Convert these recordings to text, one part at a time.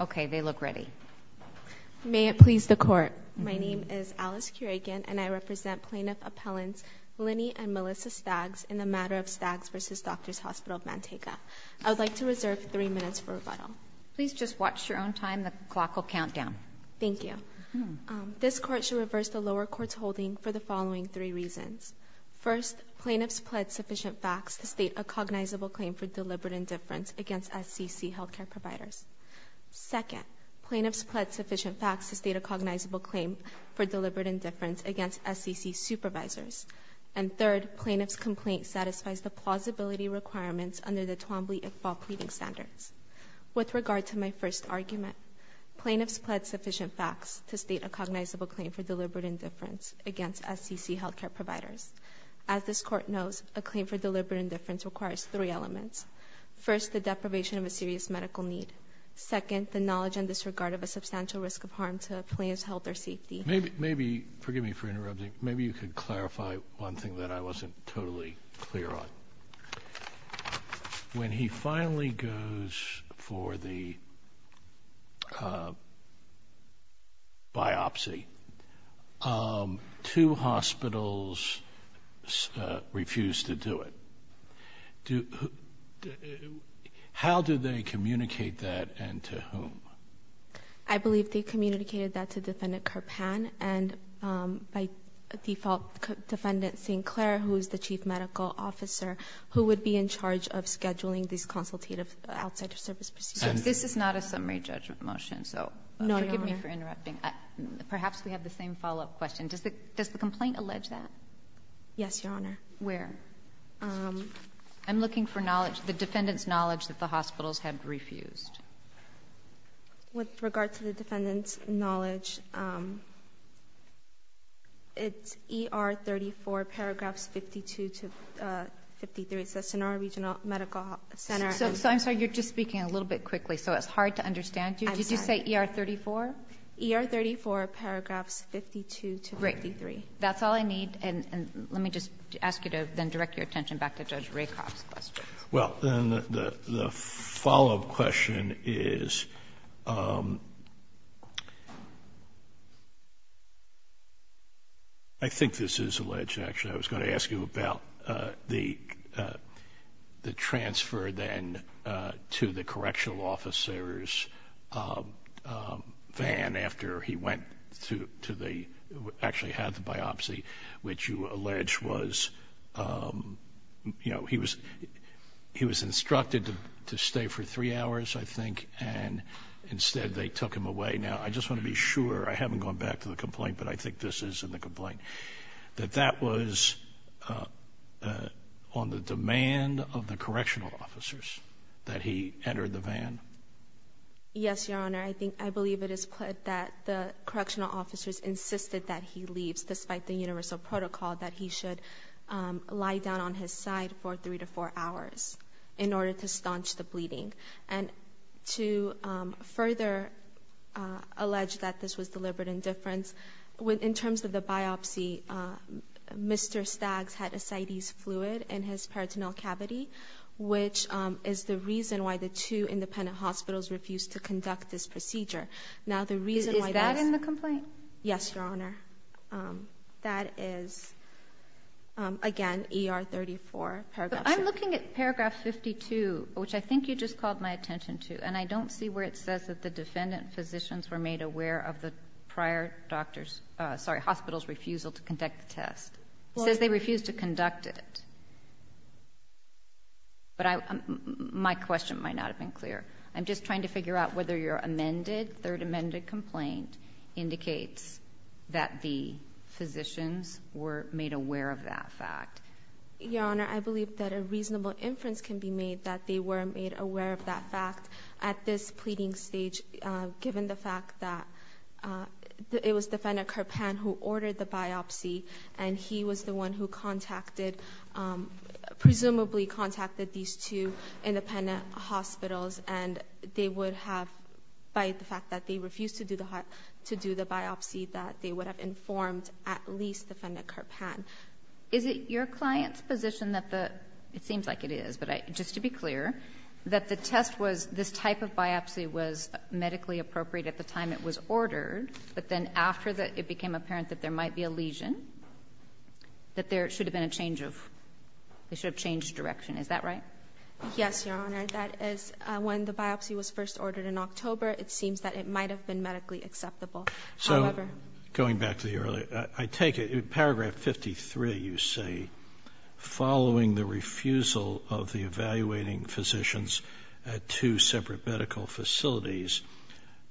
Okay, they look ready. May it please the court. My name is Alice Curegan and I represent plaintiff appellants Linny and Melissa Staggs in the matter of Staggs v. Doctor's Hospital of Manteca. I would like to reserve three minutes for rebuttal. Please just watch your own time. The clock will count down. Thank you. This court should reverse the lower court's holding for the following three reasons. First, plaintiffs pled sufficient facts to state a cognizable claim for deliberate indifference against SCC health care providers. Second, plaintiffs pled sufficient facts to state a cognizable claim for deliberate indifference against SCC supervisors. And third, plaintiff's complaint satisfies the plausibility requirements under the Twombly-Iqbal pleading standards. With regard to my first argument, plaintiffs pled sufficient facts to state a cognizable claim for deliberate indifference against SCC health care providers. As this court knows, a serious medical need. Second, the knowledge and disregard of a substantial risk of harm to plaintiff's health or safety. Maybe, forgive me for interrupting, maybe you could clarify one thing that I wasn't totally clear on. When he finally goes for the biopsy, two hospitals refuse to do it. How do they communicate that and to whom? I believe they communicated that to Defendant Karpan and by default Defendant Sinclair, who is the chief medical officer, who would be in charge of consultative outside service procedures. This is not a summary judgment motion, so forgive me for interrupting. Perhaps we have the same follow-up question. Does the complaint allege that? Yes, Your Honor. Where? I'm looking for knowledge, the Defendant's knowledge that the hospitals have refused. With regard to the Defendant's knowledge, it's ER 34, paragraphs 52 to 53. It says in our regional medical center. So I'm sorry, you're just speaking a little bit quickly, so it's hard to understand you. Did you say ER 34? ER 34, paragraphs 52 to 53. Great. That's all I need and let me just ask you to then direct your attention back to Judge Rakoff's question. Well, then the follow-up question is, I think this is going to ask you about the transfer then to the correctional officer's van after he went to the, actually had the biopsy, which you allege was, you know, he was instructed to stay for three hours, I think, and instead they took him away. Now, I just want to be sure, I haven't gone back to the complaint, but I think this is in the complaint, that that was on the demand of the correctional officers that he entered the van. Yes, Your Honor. I think, I believe it is clear that the correctional officers insisted that he leaves despite the universal protocol that he should lie down on his side for three to four hours in order to staunch the bleeding. And to further allege that this was deliberate indifference, in terms of the biopsy, Mr. Staggs had ascites fluid in his peritoneal cavity, which is the reason why the two independent hospitals refused to conduct this procedure. Now, the reason why... Is that in the complaint? Yes, Your Honor. That is, again, ER 34. I'm looking at paragraph 52, which I think you just called my attention to, and I don't see where it says that the defendant physicians were made aware of the prior doctor's, sorry, hospital's refusal to conduct the test. It says they refused to conduct it. But my question might not have been clear. I'm just trying to figure out whether your amended, third amended complaint indicates that the physicians were made aware of that fact. Your Honor, I believe that a reasonable inference can be made that they were made aware of that fact at this pleading stage, given the fact that it was Defendant Karpan who ordered the biopsy, and he was the one who contacted, presumably contacted, these two independent hospitals. And they would have, by the fact that they refused to do the biopsy, that they would have informed at least Defendant Karpan. Is it your client's position that the, it seems like it is, but just to be clear, that the test was, this type of biopsy was medically appropriate at the time it was ordered, but then after it became apparent that there might be a lesion, that there should have been a change of, they should have changed direction. Is that right? Yes, Your Honor. That is, when the biopsy was first ordered in October, it seems that it might have been medically acceptable. So, going back to the earlier, I take it, paragraph 53, you say, following the refusal of the evaluating physicians at two separate medical facilities,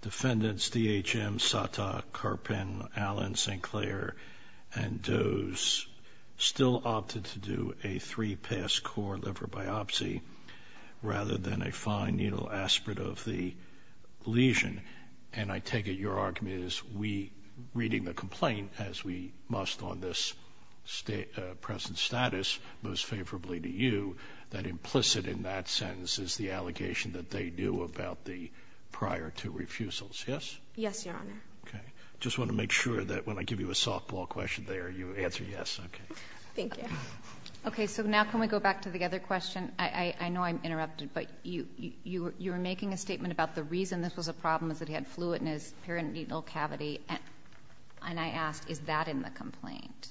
Defendants D.H.M., Sata, Karpan, Allen, St. Clair, and Dose still opted to do a three-pass core liver biopsy rather than a fine needle aspirate of the lesion. And I take it your argument is we, reading the complaint, as we must on this present status, most favorably to you, that implicit in that sentence is the allegation that they do about the prior two refusals. Yes? Yes, Your Honor. Okay. Just want to make sure that when I give you a softball question there, you answer yes. Okay. Thank you. Okay, so now can we go back to the other question? I know I'm interrupted, but you were making a statement about the reason this was a problem is that he had fluid in his peritoneal cavity. And I asked, is that in the complaint?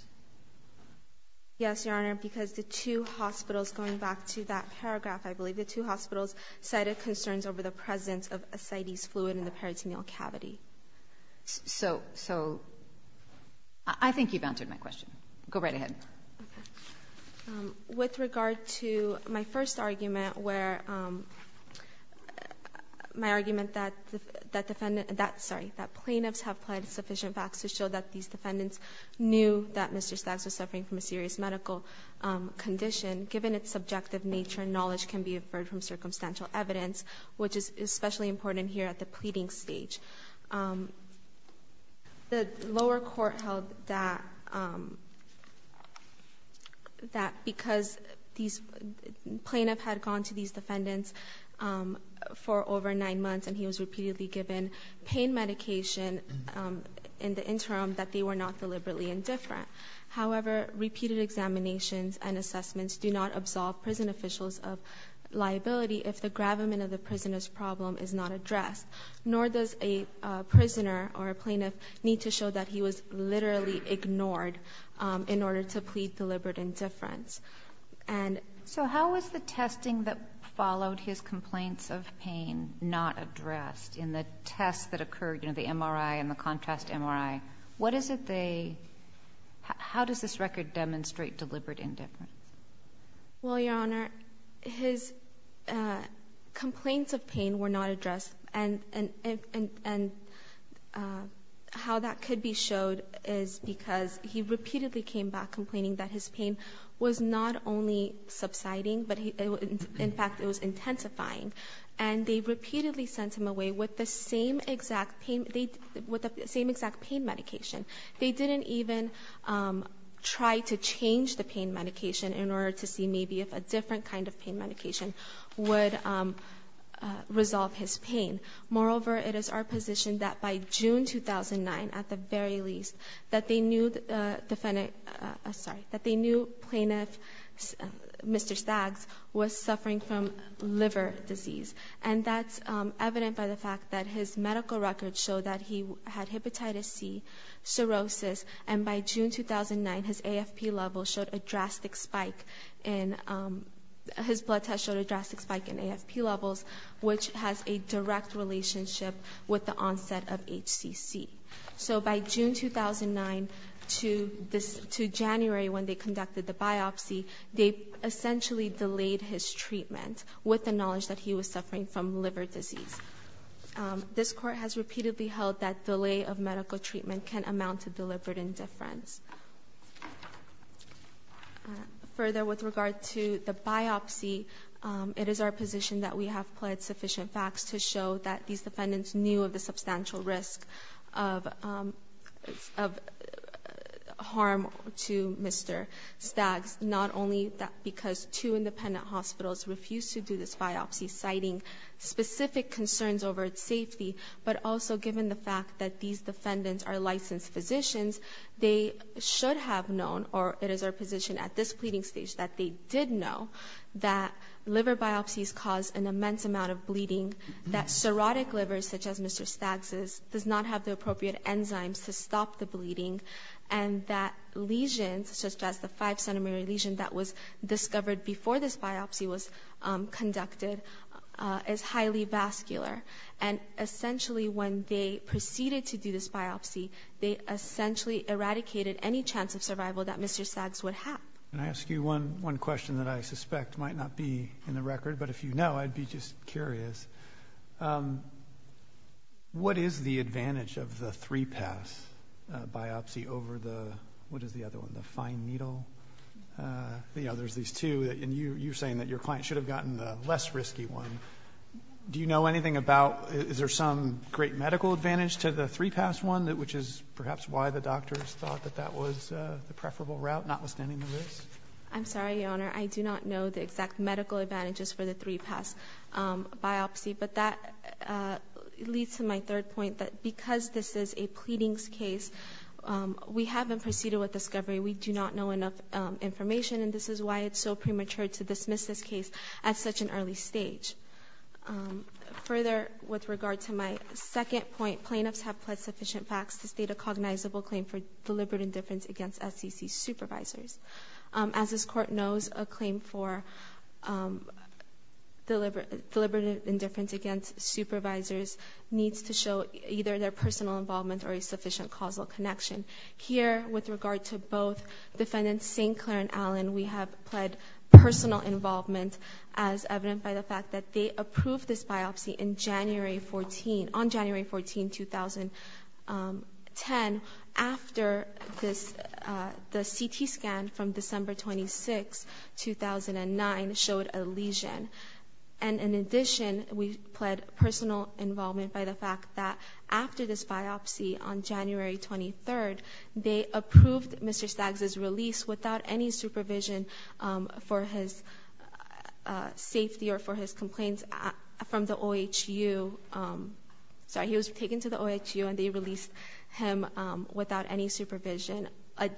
Yes, Your Honor, because the two hospitals, going back to that paragraph, I believe the two hospitals cited concerns over the presence of ascites fluid in the peritoneal cavity. So, I think you've answered my question. Go right ahead. With regard to my first argument where my argument that plaintiffs have pled sufficient facts to show that these defendants knew that Mr. Staggs was suffering from a serious medical condition, given its subjective nature, knowledge can be inferred from circumstantial evidence, which is especially important here at the pleading stage. The lower court held that because these plaintiffs had gone to these defendants for over nine months and he was repeatedly given pain medication in the interim, that they were not deliberately indifferent. However, repeated examinations and assessments do not absolve prison officials of liability if the gravamen of the prisoner's problem is not addressed, nor does a prisoner or a plaintiff need to show that he was literally ignored in order to plead deliberate indifference. So, how was the testing that followed his complaints of pain not addressed? In the tests that occurred, you know, the MRI and the contrast MRI, what is it they, how does this record demonstrate deliberate indifference? Well, Your Honor, his complaints of pain were not addressed and how that could be showed is because he repeatedly came back complaining that his pain was not only subsiding, but in fact it was intensifying. And they repeatedly sent him away with the same exact pain medication. They didn't even try to change the pain medication in order to see maybe if a different kind of pain medication would resolve his pain. Moreover, it is our position that by June 2009, at the very least, that they knew plaintiff Mr. Staggs was suffering from liver disease. And that's evident by the fact that his medical records show that he had hepatitis C, cirrhosis, and by June 2009, his AFP levels showed a drastic spike in, his blood tests showed a drastic spike in AFP levels, which has a direct relationship with the onset of HCC. So by June 2009 to January when they conducted the biopsy, they essentially delayed his treatment with the knowledge that he was suffering from liver disease. This court has repeatedly held that delay of medical treatment can amount to deliberate indifference. Further, with regard to the biopsy, it is our position that we have pled sufficient facts to show that these defendants knew of the substantial risk of harm to Mr. Staggs, not only because two independent hospitals refused to do this biopsy, citing specific concerns over its safety, but also given the fact that these defendants are licensed physicians, they should have known, or it is our position at this pleading stage, that they did know that liver biopsies cause an immense amount of bleeding, that cirrhotic livers such as Mr. Staggs' does not have the appropriate enzymes to stop the bleeding, and that lesions such as the five-centimeter lesion that was discovered before this biopsy was conducted is highly vascular. And essentially when they proceeded to do this biopsy, they essentially eradicated any chance of survival that Mr. Staggs would have. Can I ask you one question that I suspect might not be in the record, but if you know, I'd be just curious. What is the advantage of the three-pass biopsy over the, what is the other one, the fine needle? You know, there's these two, and you're saying that your client should have gotten the less risky one. Do you know anything about, is there some great medical advantage to the three-pass one, which is perhaps why the doctors thought that that was the preferable route, notwithstanding the risk? I'm sorry, Your Honor. I do not know the exact medical advantages for the three-pass biopsy, but that leads to my third point that because this is a pleadings case, we haven't proceeded with discovery. We do not know enough information, and this is why it's so premature to dismiss this case at such an early stage. Further, with regard to my second point, plaintiffs have pled sufficient facts to state a cognizable claim for deliberate indifference against SEC supervisors. As this court knows, a claim for deliberate indifference against supervisors needs to show either their personal involvement or a sufficient causal connection. Here, with regard to both defendants, St. Clair and Allen, we have pled personal involvement as evident by the fact that they approved this biopsy on January 14, 2010. And after this, the CT scan from December 26, 2009 showed a lesion. And in addition, we pled personal involvement by the fact that after this biopsy on January 23, they approved Mr. Stags' release without any supervision for his safety or for his complaints from the OHU. Sorry, he was taken to the OHU and they released him without any supervision,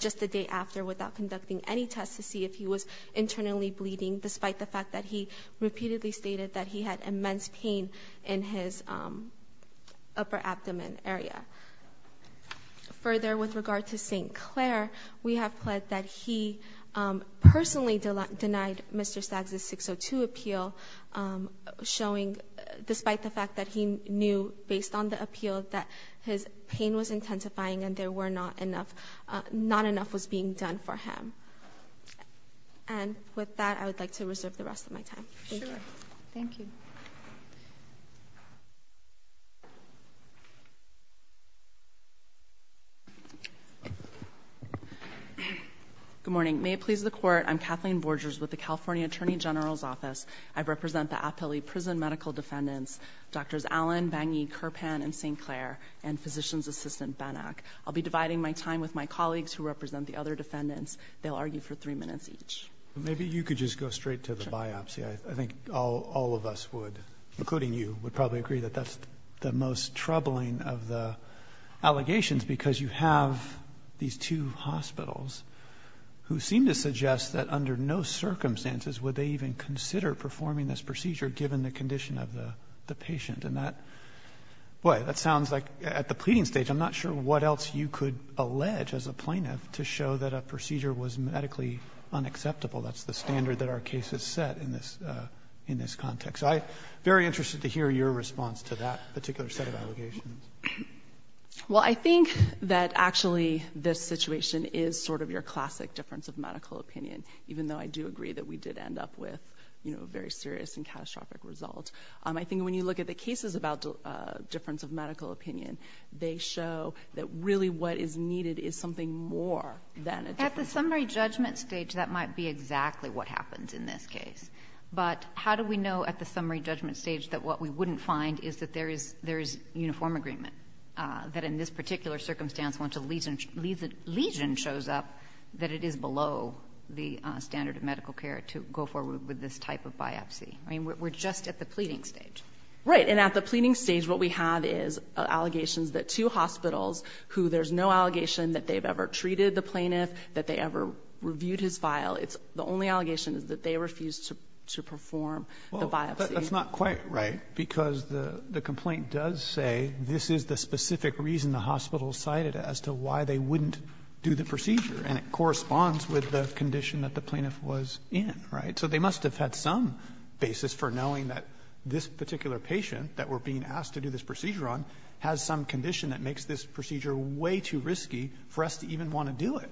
just the day after, without conducting any tests to see if he was internally bleeding, despite the fact that he repeatedly stated that he had immense pain in his upper abdomen area. Further, with regard to St. Clair, we have pled that he personally denied Mr. Stags' 602 appeal, despite the fact that he knew, based on the appeal, that his pain was intensifying and not enough was being done for him. And with that, I would like to reserve the rest of my time. Thank you. Sure. Thank you. Good morning. May it please the Court, I'm Kathleen Borges with the California Attorney General's Office. I represent the Appellee Prison Medical Defendants, Drs. Allen, Bangi, Kirpan, and St. Clair, and Physician's Assistant Benak. I'll be dividing my time with my colleagues who represent the other defendants. They'll argue for three minutes each. Maybe you could just go straight to the biopsy. I think all of us would, including you, would probably agree that that's the most troubling of the allegations because you have these two hospitals who seem to suggest that under no circumstances would they even consider performing this procedure, given the condition of the patient. And that sounds like, at the pleading stage, I'm not sure what else you could allege as a plaintiff to show that a procedure was medically unacceptable. That's the standard that our case has set in this context. So I'm very interested to hear your response to that particular set of allegations. Well, I think that actually this situation is sort of your classic difference of medical opinion, even though I do agree that we did end up with a very serious and catastrophic result. I think when you look at the cases about difference of medical opinion, they show that really what is needed is something more than a difference of medical opinion. At the summary judgment stage, that might be exactly what happens in this case. But how do we know at the summary judgment stage that what we wouldn't find is that there is uniform agreement, that in this particular circumstance, once a lesion shows up, that it is below the standard of medical care to go forward with this type of biopsy? I mean, we're just at the pleading stage. Right, and at the pleading stage, what we have is allegations that two hospitals, who there's no allegation that they've ever treated the plaintiff, that they ever reviewed his file. The only allegation is that they refused to perform the biopsy. That's not quite right, because the complaint does say this is the specific reason the hospital cited it, as to why they wouldn't do the procedure, and it corresponds with the condition that the plaintiff was in, right? So they must have had some basis for knowing that this particular patient that we're being asked to do this procedure on has some condition that makes this procedure way too risky for us to even want to do it.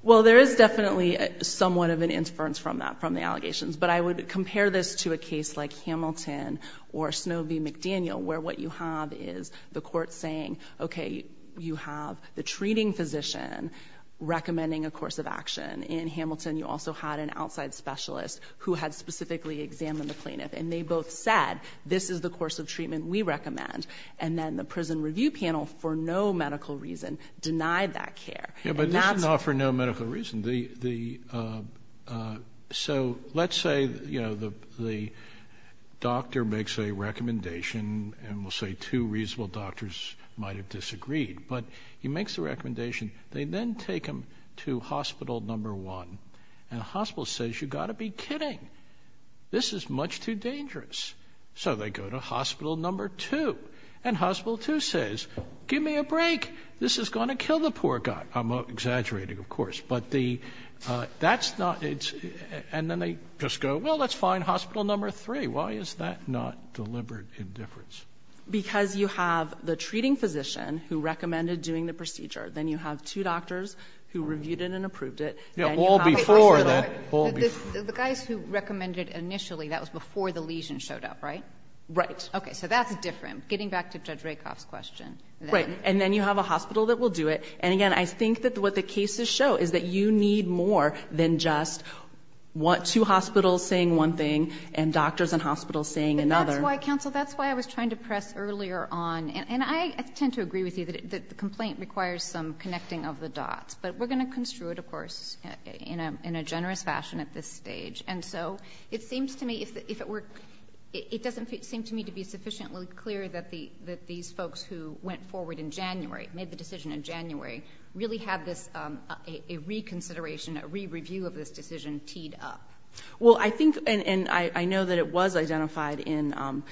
Well, there is definitely somewhat of an inference from that, from the allegations. But I would compare this to a case like Hamilton or Snowbee McDaniel, where what you have is the court saying, okay, you have the treating physician recommending a course of action. In Hamilton, you also had an outside specialist who had specifically examined the plaintiff, and they both said, this is the course of treatment we recommend. And then the prison review panel, for no medical reason, denied that care. Yeah, but this is not for no medical reason. So let's say the doctor makes a recommendation, and we'll say two reasonable doctors might have disagreed. But he makes the recommendation. They then take him to hospital number one, and the hospital says, you've got to be kidding. This is much too dangerous. So they go to hospital number two, and hospital two says, give me a break. This is going to kill the poor guy. I'm exaggerating, of course. But that's not the case. And then they just go, well, that's fine, hospital number three. Why is that not deliberate indifference? Because you have the treating physician who recommended doing the procedure. Then you have two doctors who reviewed it and approved it. Yeah, all before that. The guys who recommended initially, that was before the lesion showed up, right? Right. Okay, so that's different. Getting back to Judge Rakoff's question. Right. And then you have a hospital that will do it. And, again, I think that what the cases show is that you need more than just two hospitals saying one thing and doctors and hospitals saying another. But that's why, counsel, that's why I was trying to press earlier on, and I tend to agree with you that the complaint requires some connecting of the dots. But we're going to construe it, of course, in a generous fashion at this stage. And so it seems to me if it were to be sufficiently clear that these folks who went forward in January, made the decision in January, really have a reconsideration, a re-review of this decision teed up. Well, I think, and I know that it was identified in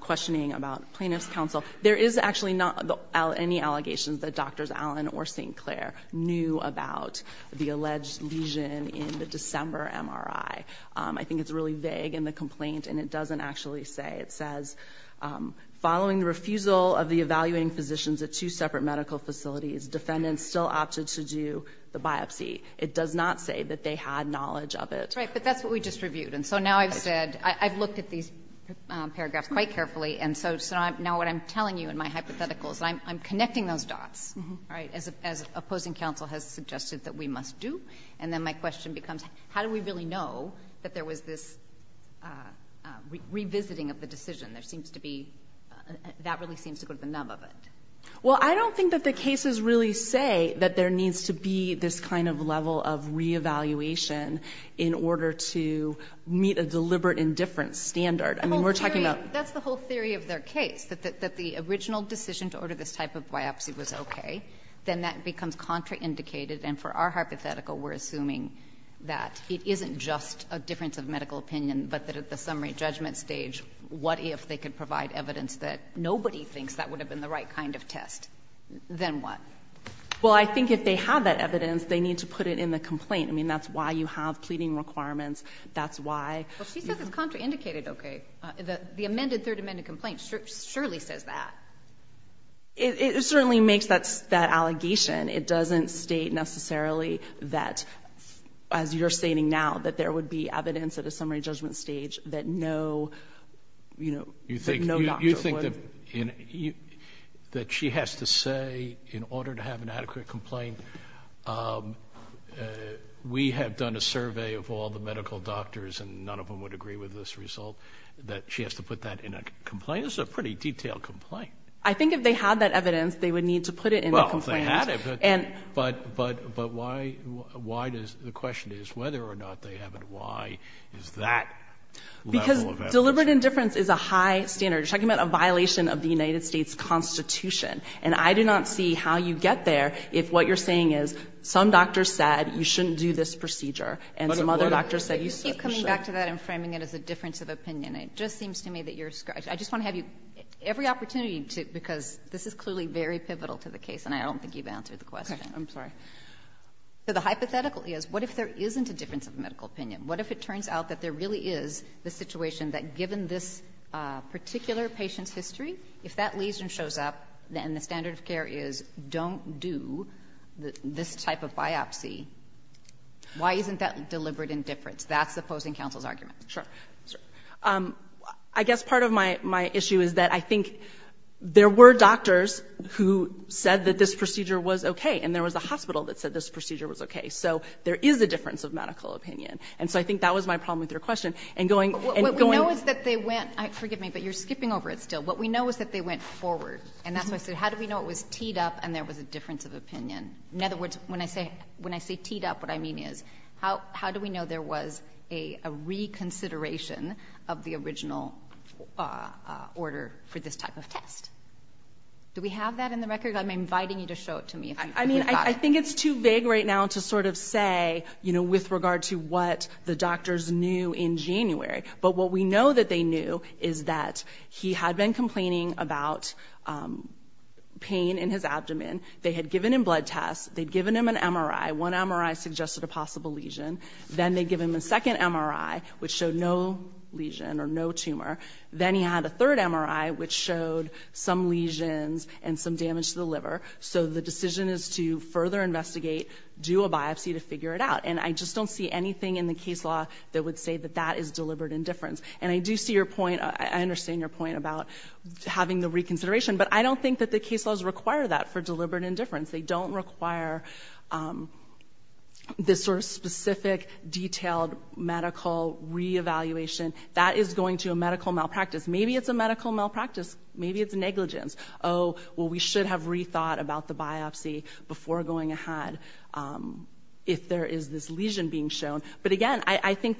questioning about plaintiff's counsel, there is actually not any allegations that Drs. Allen or St. Clair knew about the alleged lesion in the December MRI. I think it's really vague in the complaint, and it doesn't actually say. It says, following the refusal of the evaluating physicians at two separate medical facilities, defendants still opted to do the biopsy. It does not say that they had knowledge of it. Right, but that's what we just reviewed. And so now I've said, I've looked at these paragraphs quite carefully, and so now what I'm telling you in my hypothetical is I'm connecting those dots, right, as opposing counsel has suggested that we must do. And then my question becomes, how do we really know that there was this revisiting of the decision? There seems to be, that really seems to go to the nub of it. Well, I don't think that the cases really say that there needs to be this kind of level of re-evaluation in order to meet a deliberate indifference standard. I mean, we're talking about. That's the whole theory of their case, that the original decision to order this type of biopsy was okay. Then that becomes contraindicated, and for our hypothetical, we're assuming that it isn't just a difference of medical opinion, but that at the summary judgment stage, what if they could provide evidence that nobody thinks that would have been the right kind of test? Then what? Well, I think if they have that evidence, they need to put it in the complaint. I mean, that's why you have pleading requirements. That's why. Well, she says it's contraindicated, okay. The amended, third amended complaint surely says that. It certainly makes that allegation. It doesn't state necessarily that, as you're stating now, that there would be evidence at a summary judgment stage that no doctor would. You think that she has to say, in order to have an adequate complaint, we have done a survey of all the medical doctors, and none of them would agree with this result, that she has to put that in a complaint? That is a pretty detailed complaint. I think if they had that evidence, they would need to put it in the complaint. Well, if they had it, but why does the question is whether or not they have it, why is that level of evidence? Because deliberate indifference is a high standard. You're talking about a violation of the United States Constitution, and I do not see how you get there if what you're saying is some doctor said you shouldn't do this procedure, and some other doctor said you should. You keep coming back to that and framing it as a difference of opinion. It just seems to me that you're struggling. I just want to have every opportunity to, because this is clearly very pivotal to the case, and I don't think you've answered the question. I'm sorry. So the hypothetical is, what if there isn't a difference of medical opinion? What if it turns out that there really is the situation that, given this particular patient's history, if that lesion shows up and the standard of care is don't do this type of biopsy, why isn't that deliberate indifference? That's opposing counsel's argument. Sure. I guess part of my issue is that I think there were doctors who said that this procedure was okay, and there was a hospital that said this procedure was okay. So there is a difference of medical opinion. And so I think that was my problem with your question. And going — What we know is that they went — forgive me, but you're skipping over it still. What we know is that they went forward, and that's why I said, how do we know it was teed up and there was a difference of opinion? In other words, when I say teed up, what I mean is, how do we know there was a reconsideration of the original order for this type of test? Do we have that in the record? I'm inviting you to show it to me. I mean, I think it's too vague right now to sort of say, you know, with regard to what the doctors knew in January. But what we know that they knew is that he had been complaining about pain in his abdomen. They had given him blood tests. They had given him an MRI. One MRI suggested a possible lesion. Then they gave him a second MRI, which showed no lesion or no tumor. Then he had a third MRI, which showed some lesions and some damage to the liver. So the decision is to further investigate, do a biopsy to figure it out. And I just don't see anything in the case law that would say that that is deliberate indifference. And I do see your point — I understand your point about having the reconsideration, but I don't think that the case laws require that for deliberate indifference. They don't require this sort of specific, detailed medical reevaluation. That is going to a medical malpractice. Maybe it's a medical malpractice. Maybe it's negligence. Oh, well, we should have rethought about the biopsy before going ahead if there is this lesion being shown. As I said,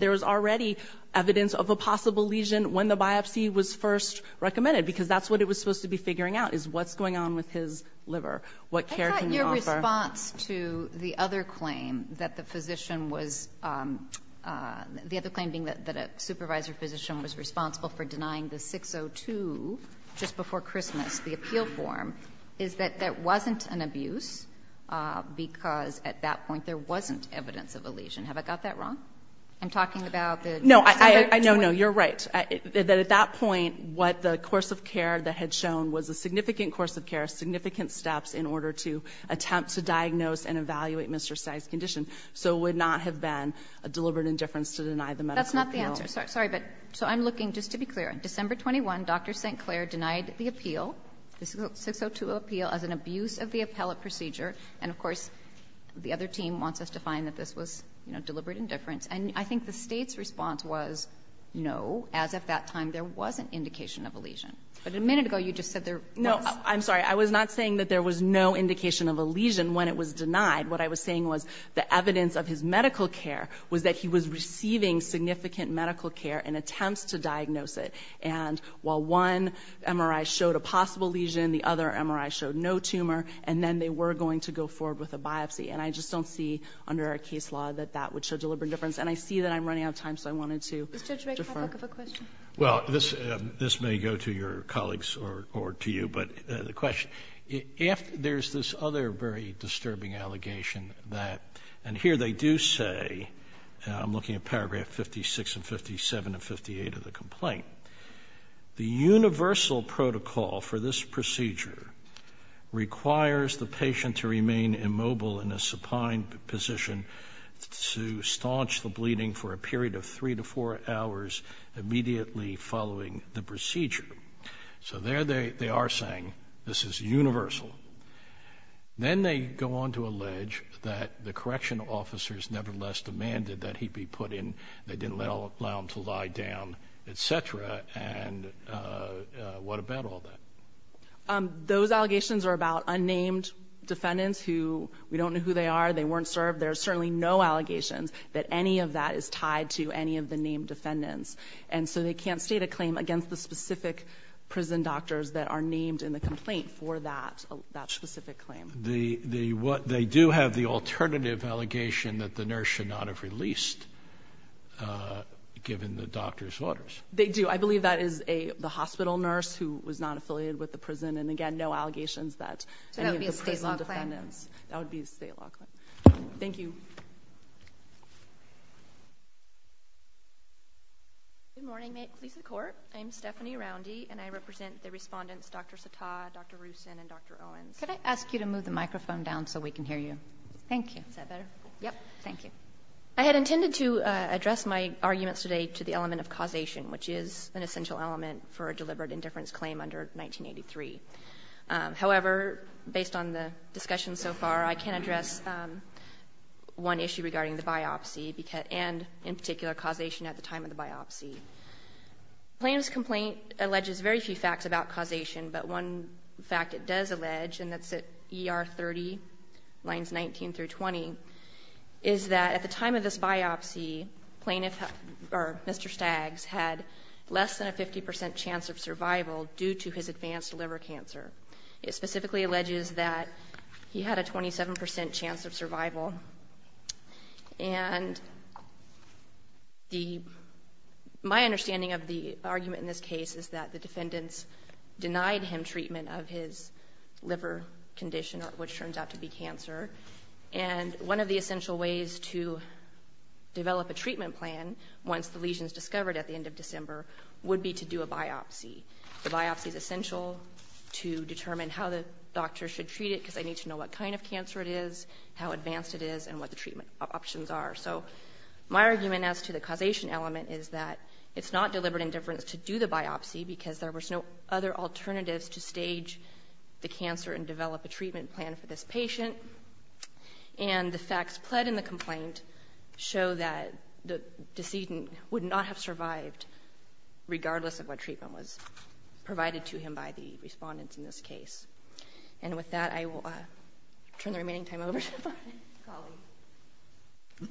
there is already evidence of a possible lesion when the biopsy was first recommended, because that's what it was supposed to be figuring out, is what's going on with his liver. What care can you offer? I thought your response to the other claim that the physician was — the other claim being that a supervisor physician was responsible for denying the 602 just before Christmas, the appeal form, is that there wasn't an abuse because at that point there wasn't evidence of a lesion. Have I got that wrong? I'm talking about the — No, no, no, you're right. At that point, what the course of care that had shown was a significant course of care, significant steps in order to attempt to diagnose and evaluate Mr. Stagg's condition, so it would not have been a deliberate indifference to deny the medical appeal. That's not the answer. Sorry, but — so I'm looking — just to be clear, December 21, Dr. St. Clair denied the appeal, the 602 appeal, as an abuse of the appellate procedure, and of course the other team wants us to find that this was deliberate indifference, and I think the state's response was no, as of that time there was an indication of a lesion. But a minute ago you just said there was. No, I'm sorry. I was not saying that there was no indication of a lesion when it was denied. What I was saying was the evidence of his medical care was that he was receiving significant medical care and attempts to diagnose it, and while one MRI showed a possible lesion, the other MRI showed no tumor, and then they were going to go forward with a biopsy, and I just don't see under our case law that that would show deliberate indifference, and I see that I'm running out of time, so I wanted to defer. Mr. Judge, may I ask a question? Well, this may go to your colleagues or to you, but the question, if there's this other very disturbing allegation that — and here they do say, I'm looking at paragraph 56 and 57 and 58 of the complaint, the universal protocol for this procedure requires the patient to remain immobile in a supine position to staunch the bleeding for a period of three to four hours immediately following the procedure. So there they are saying this is universal. Then they go on to allege that the correction officers nevertheless demanded that he be put in, they didn't allow him to lie down, et cetera, and what about all that? Those allegations are about unnamed defendants who we don't know who they are, they weren't served. There are certainly no allegations that any of that is tied to any of the named defendants, and so they can't state a claim against the specific prison doctors that are named in the complaint for that specific claim. They do have the alternative allegation that the nurse should not have released, given the doctor's orders. They do. I believe that is the hospital nurse who was not affiliated with the prison, and again, no allegations that any of the prison defendants — So that would be a state law claim? That would be a state law claim. Thank you. Good morning, police and court. I'm Stephanie Roundy, and I represent the respondents, Dr. Sattah, Dr. Rusin, and Dr. Owens. Could I ask you to move the microphone down so we can hear you? Thank you. Is that better? Yep. Thank you. I had intended to address my arguments today to the element of causation, which is an essential element for a deliberate indifference claim under 1983. However, based on the discussion so far, I can address one issue regarding the biopsy, and in particular, causation at the time of the biopsy. The plaintiff's complaint alleges very few facts about causation, but one fact it does allege, and that's at ER 30, lines 19 through 20, is that at the time of this biopsy, Mr. Staggs had less than a 50 percent chance of survival due to his advanced liver cancer. It specifically alleges that he had a 27 percent chance of survival, and my understanding of the argument in this case is that the defendants denied him treatment of his liver condition, which turns out to be cancer, and one of the essential ways to develop a treatment plan once the lesion is discovered at the end of December would be to do a biopsy. The biopsy is essential to determine how the doctor should treat it because I need to know what kind of cancer it is, how advanced it is, and what the treatment options are. So my argument as to the causation element is that it's not deliberate indifference to do the biopsy because there were no other alternatives to stage the cancer and develop a treatment plan for this patient, and the facts pled in the complaint show that the decedent would not have survived regardless of what treatment was provided to him by the respondents in this case. And with that, I will turn the remaining time over to my colleague.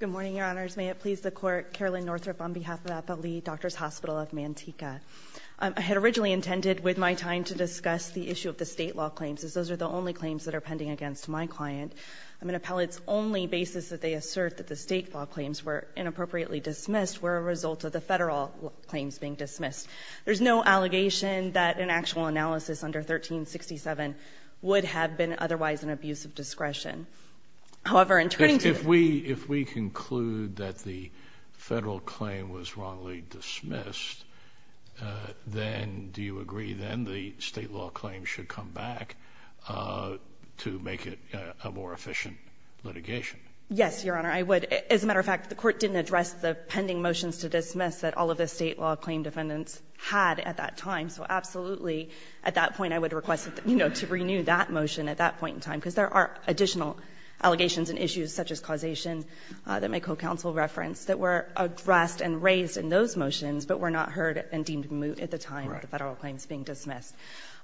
Good morning, Your Honors. May it please the Court. Carolyn Northrup on behalf of Appellee Doctors' Hospital of Manteca. I had originally intended with my time to discuss the issue of the state law claims as those are the only claims that are pending against my client. I'm an appellate's only basis that they assert that the state law claims were inappropriately dismissed were a result of the federal claims being dismissed. There's no allegation that an actual analysis under 1367 would have been otherwise an abuse of discretion. However, in turning to the If we conclude that the federal claim was wrongly dismissed, then do you agree then the state law claim should come back to make it a more efficient litigation? Yes, Your Honor. I would. As a matter of fact, the Court didn't address the pending motions to dismiss that all of the state law claim defendants had at that time. So absolutely, at that point, I would request to renew that motion at that point in time because there are additional allegations and issues such as causation that my co-counsel referenced that were addressed and raised in those motions but were not heard and deemed moot at the time of the federal claims being dismissed.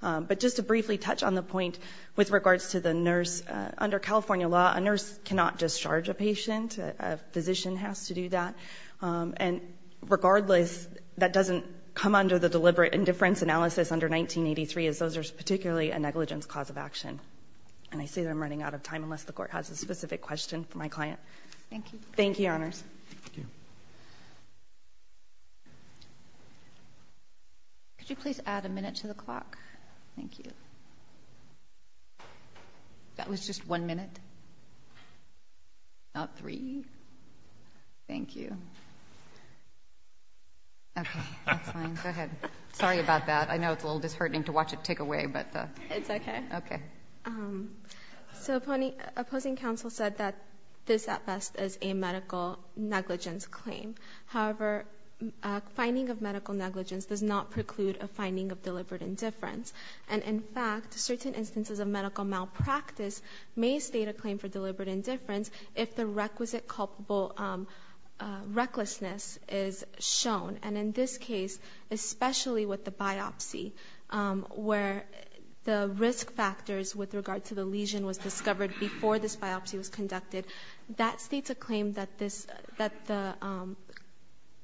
But just to briefly touch on the point with regards to the nurse, under California law, a nurse cannot discharge a patient. A physician has to do that. And regardless, that doesn't come under the deliberate indifference analysis under 1983 as those are particularly a negligence cause of action. And I see that I'm running out of time unless the Court has a specific question for my client. Thank you. Thank you, Your Honors. Could you please add a minute to the clock? Thank you. That was just one minute, not three. Thank you. Okay, that's fine. Go ahead. Sorry about that. I know it's a little disheartening to watch it tick away. It's okay. Okay. So opposing counsel said that this at best is a medical negligence claim. However, finding of medical negligence does not preclude a finding of deliberate indifference. And in fact, certain instances of medical malpractice may state a claim for deliberate indifference if the requisite recklessness is shown. And in this case, especially with the biopsy, where the risk factors with regard to the lesion was discovered before this biopsy was conducted, that states a claim that the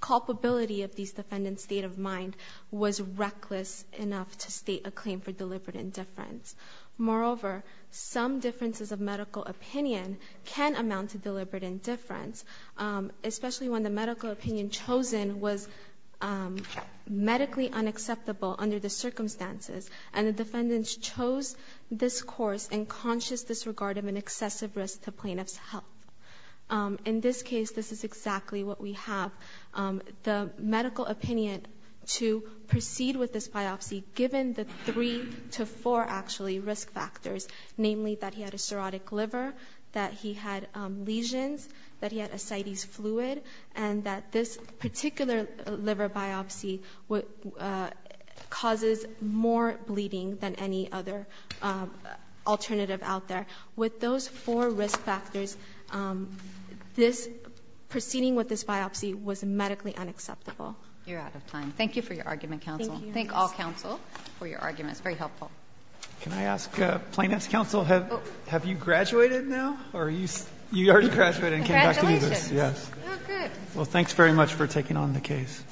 culpability of these defendants' state of mind was reckless enough to state a claim for deliberate indifference. Moreover, some differences of medical opinion can amount to deliberate indifference, especially when the medical opinion chosen was medically unacceptable under the circumstances and the defendants chose this course in conscious disregard of an excessive risk to plaintiff's health. In this case, this is exactly what we have. The medical opinion to proceed with this biopsy, given the three to four actually risk factors, namely that he had a cirrhotic liver, that he had lesions, that he had ascites fluid, and that this particular liver biopsy causes more bleeding than any other alternative out there. With those four risk factors, this proceeding with this biopsy was medically unacceptable. You're out of time. Thank you for your argument, counsel. Thank you. Thank all counsel for your arguments. Very helpful. Can I ask plaintiff's counsel, have you graduated now? Or you already graduated and came back to do this? Congratulations. Yes. Oh, good. Well, thanks very much for taking on the case.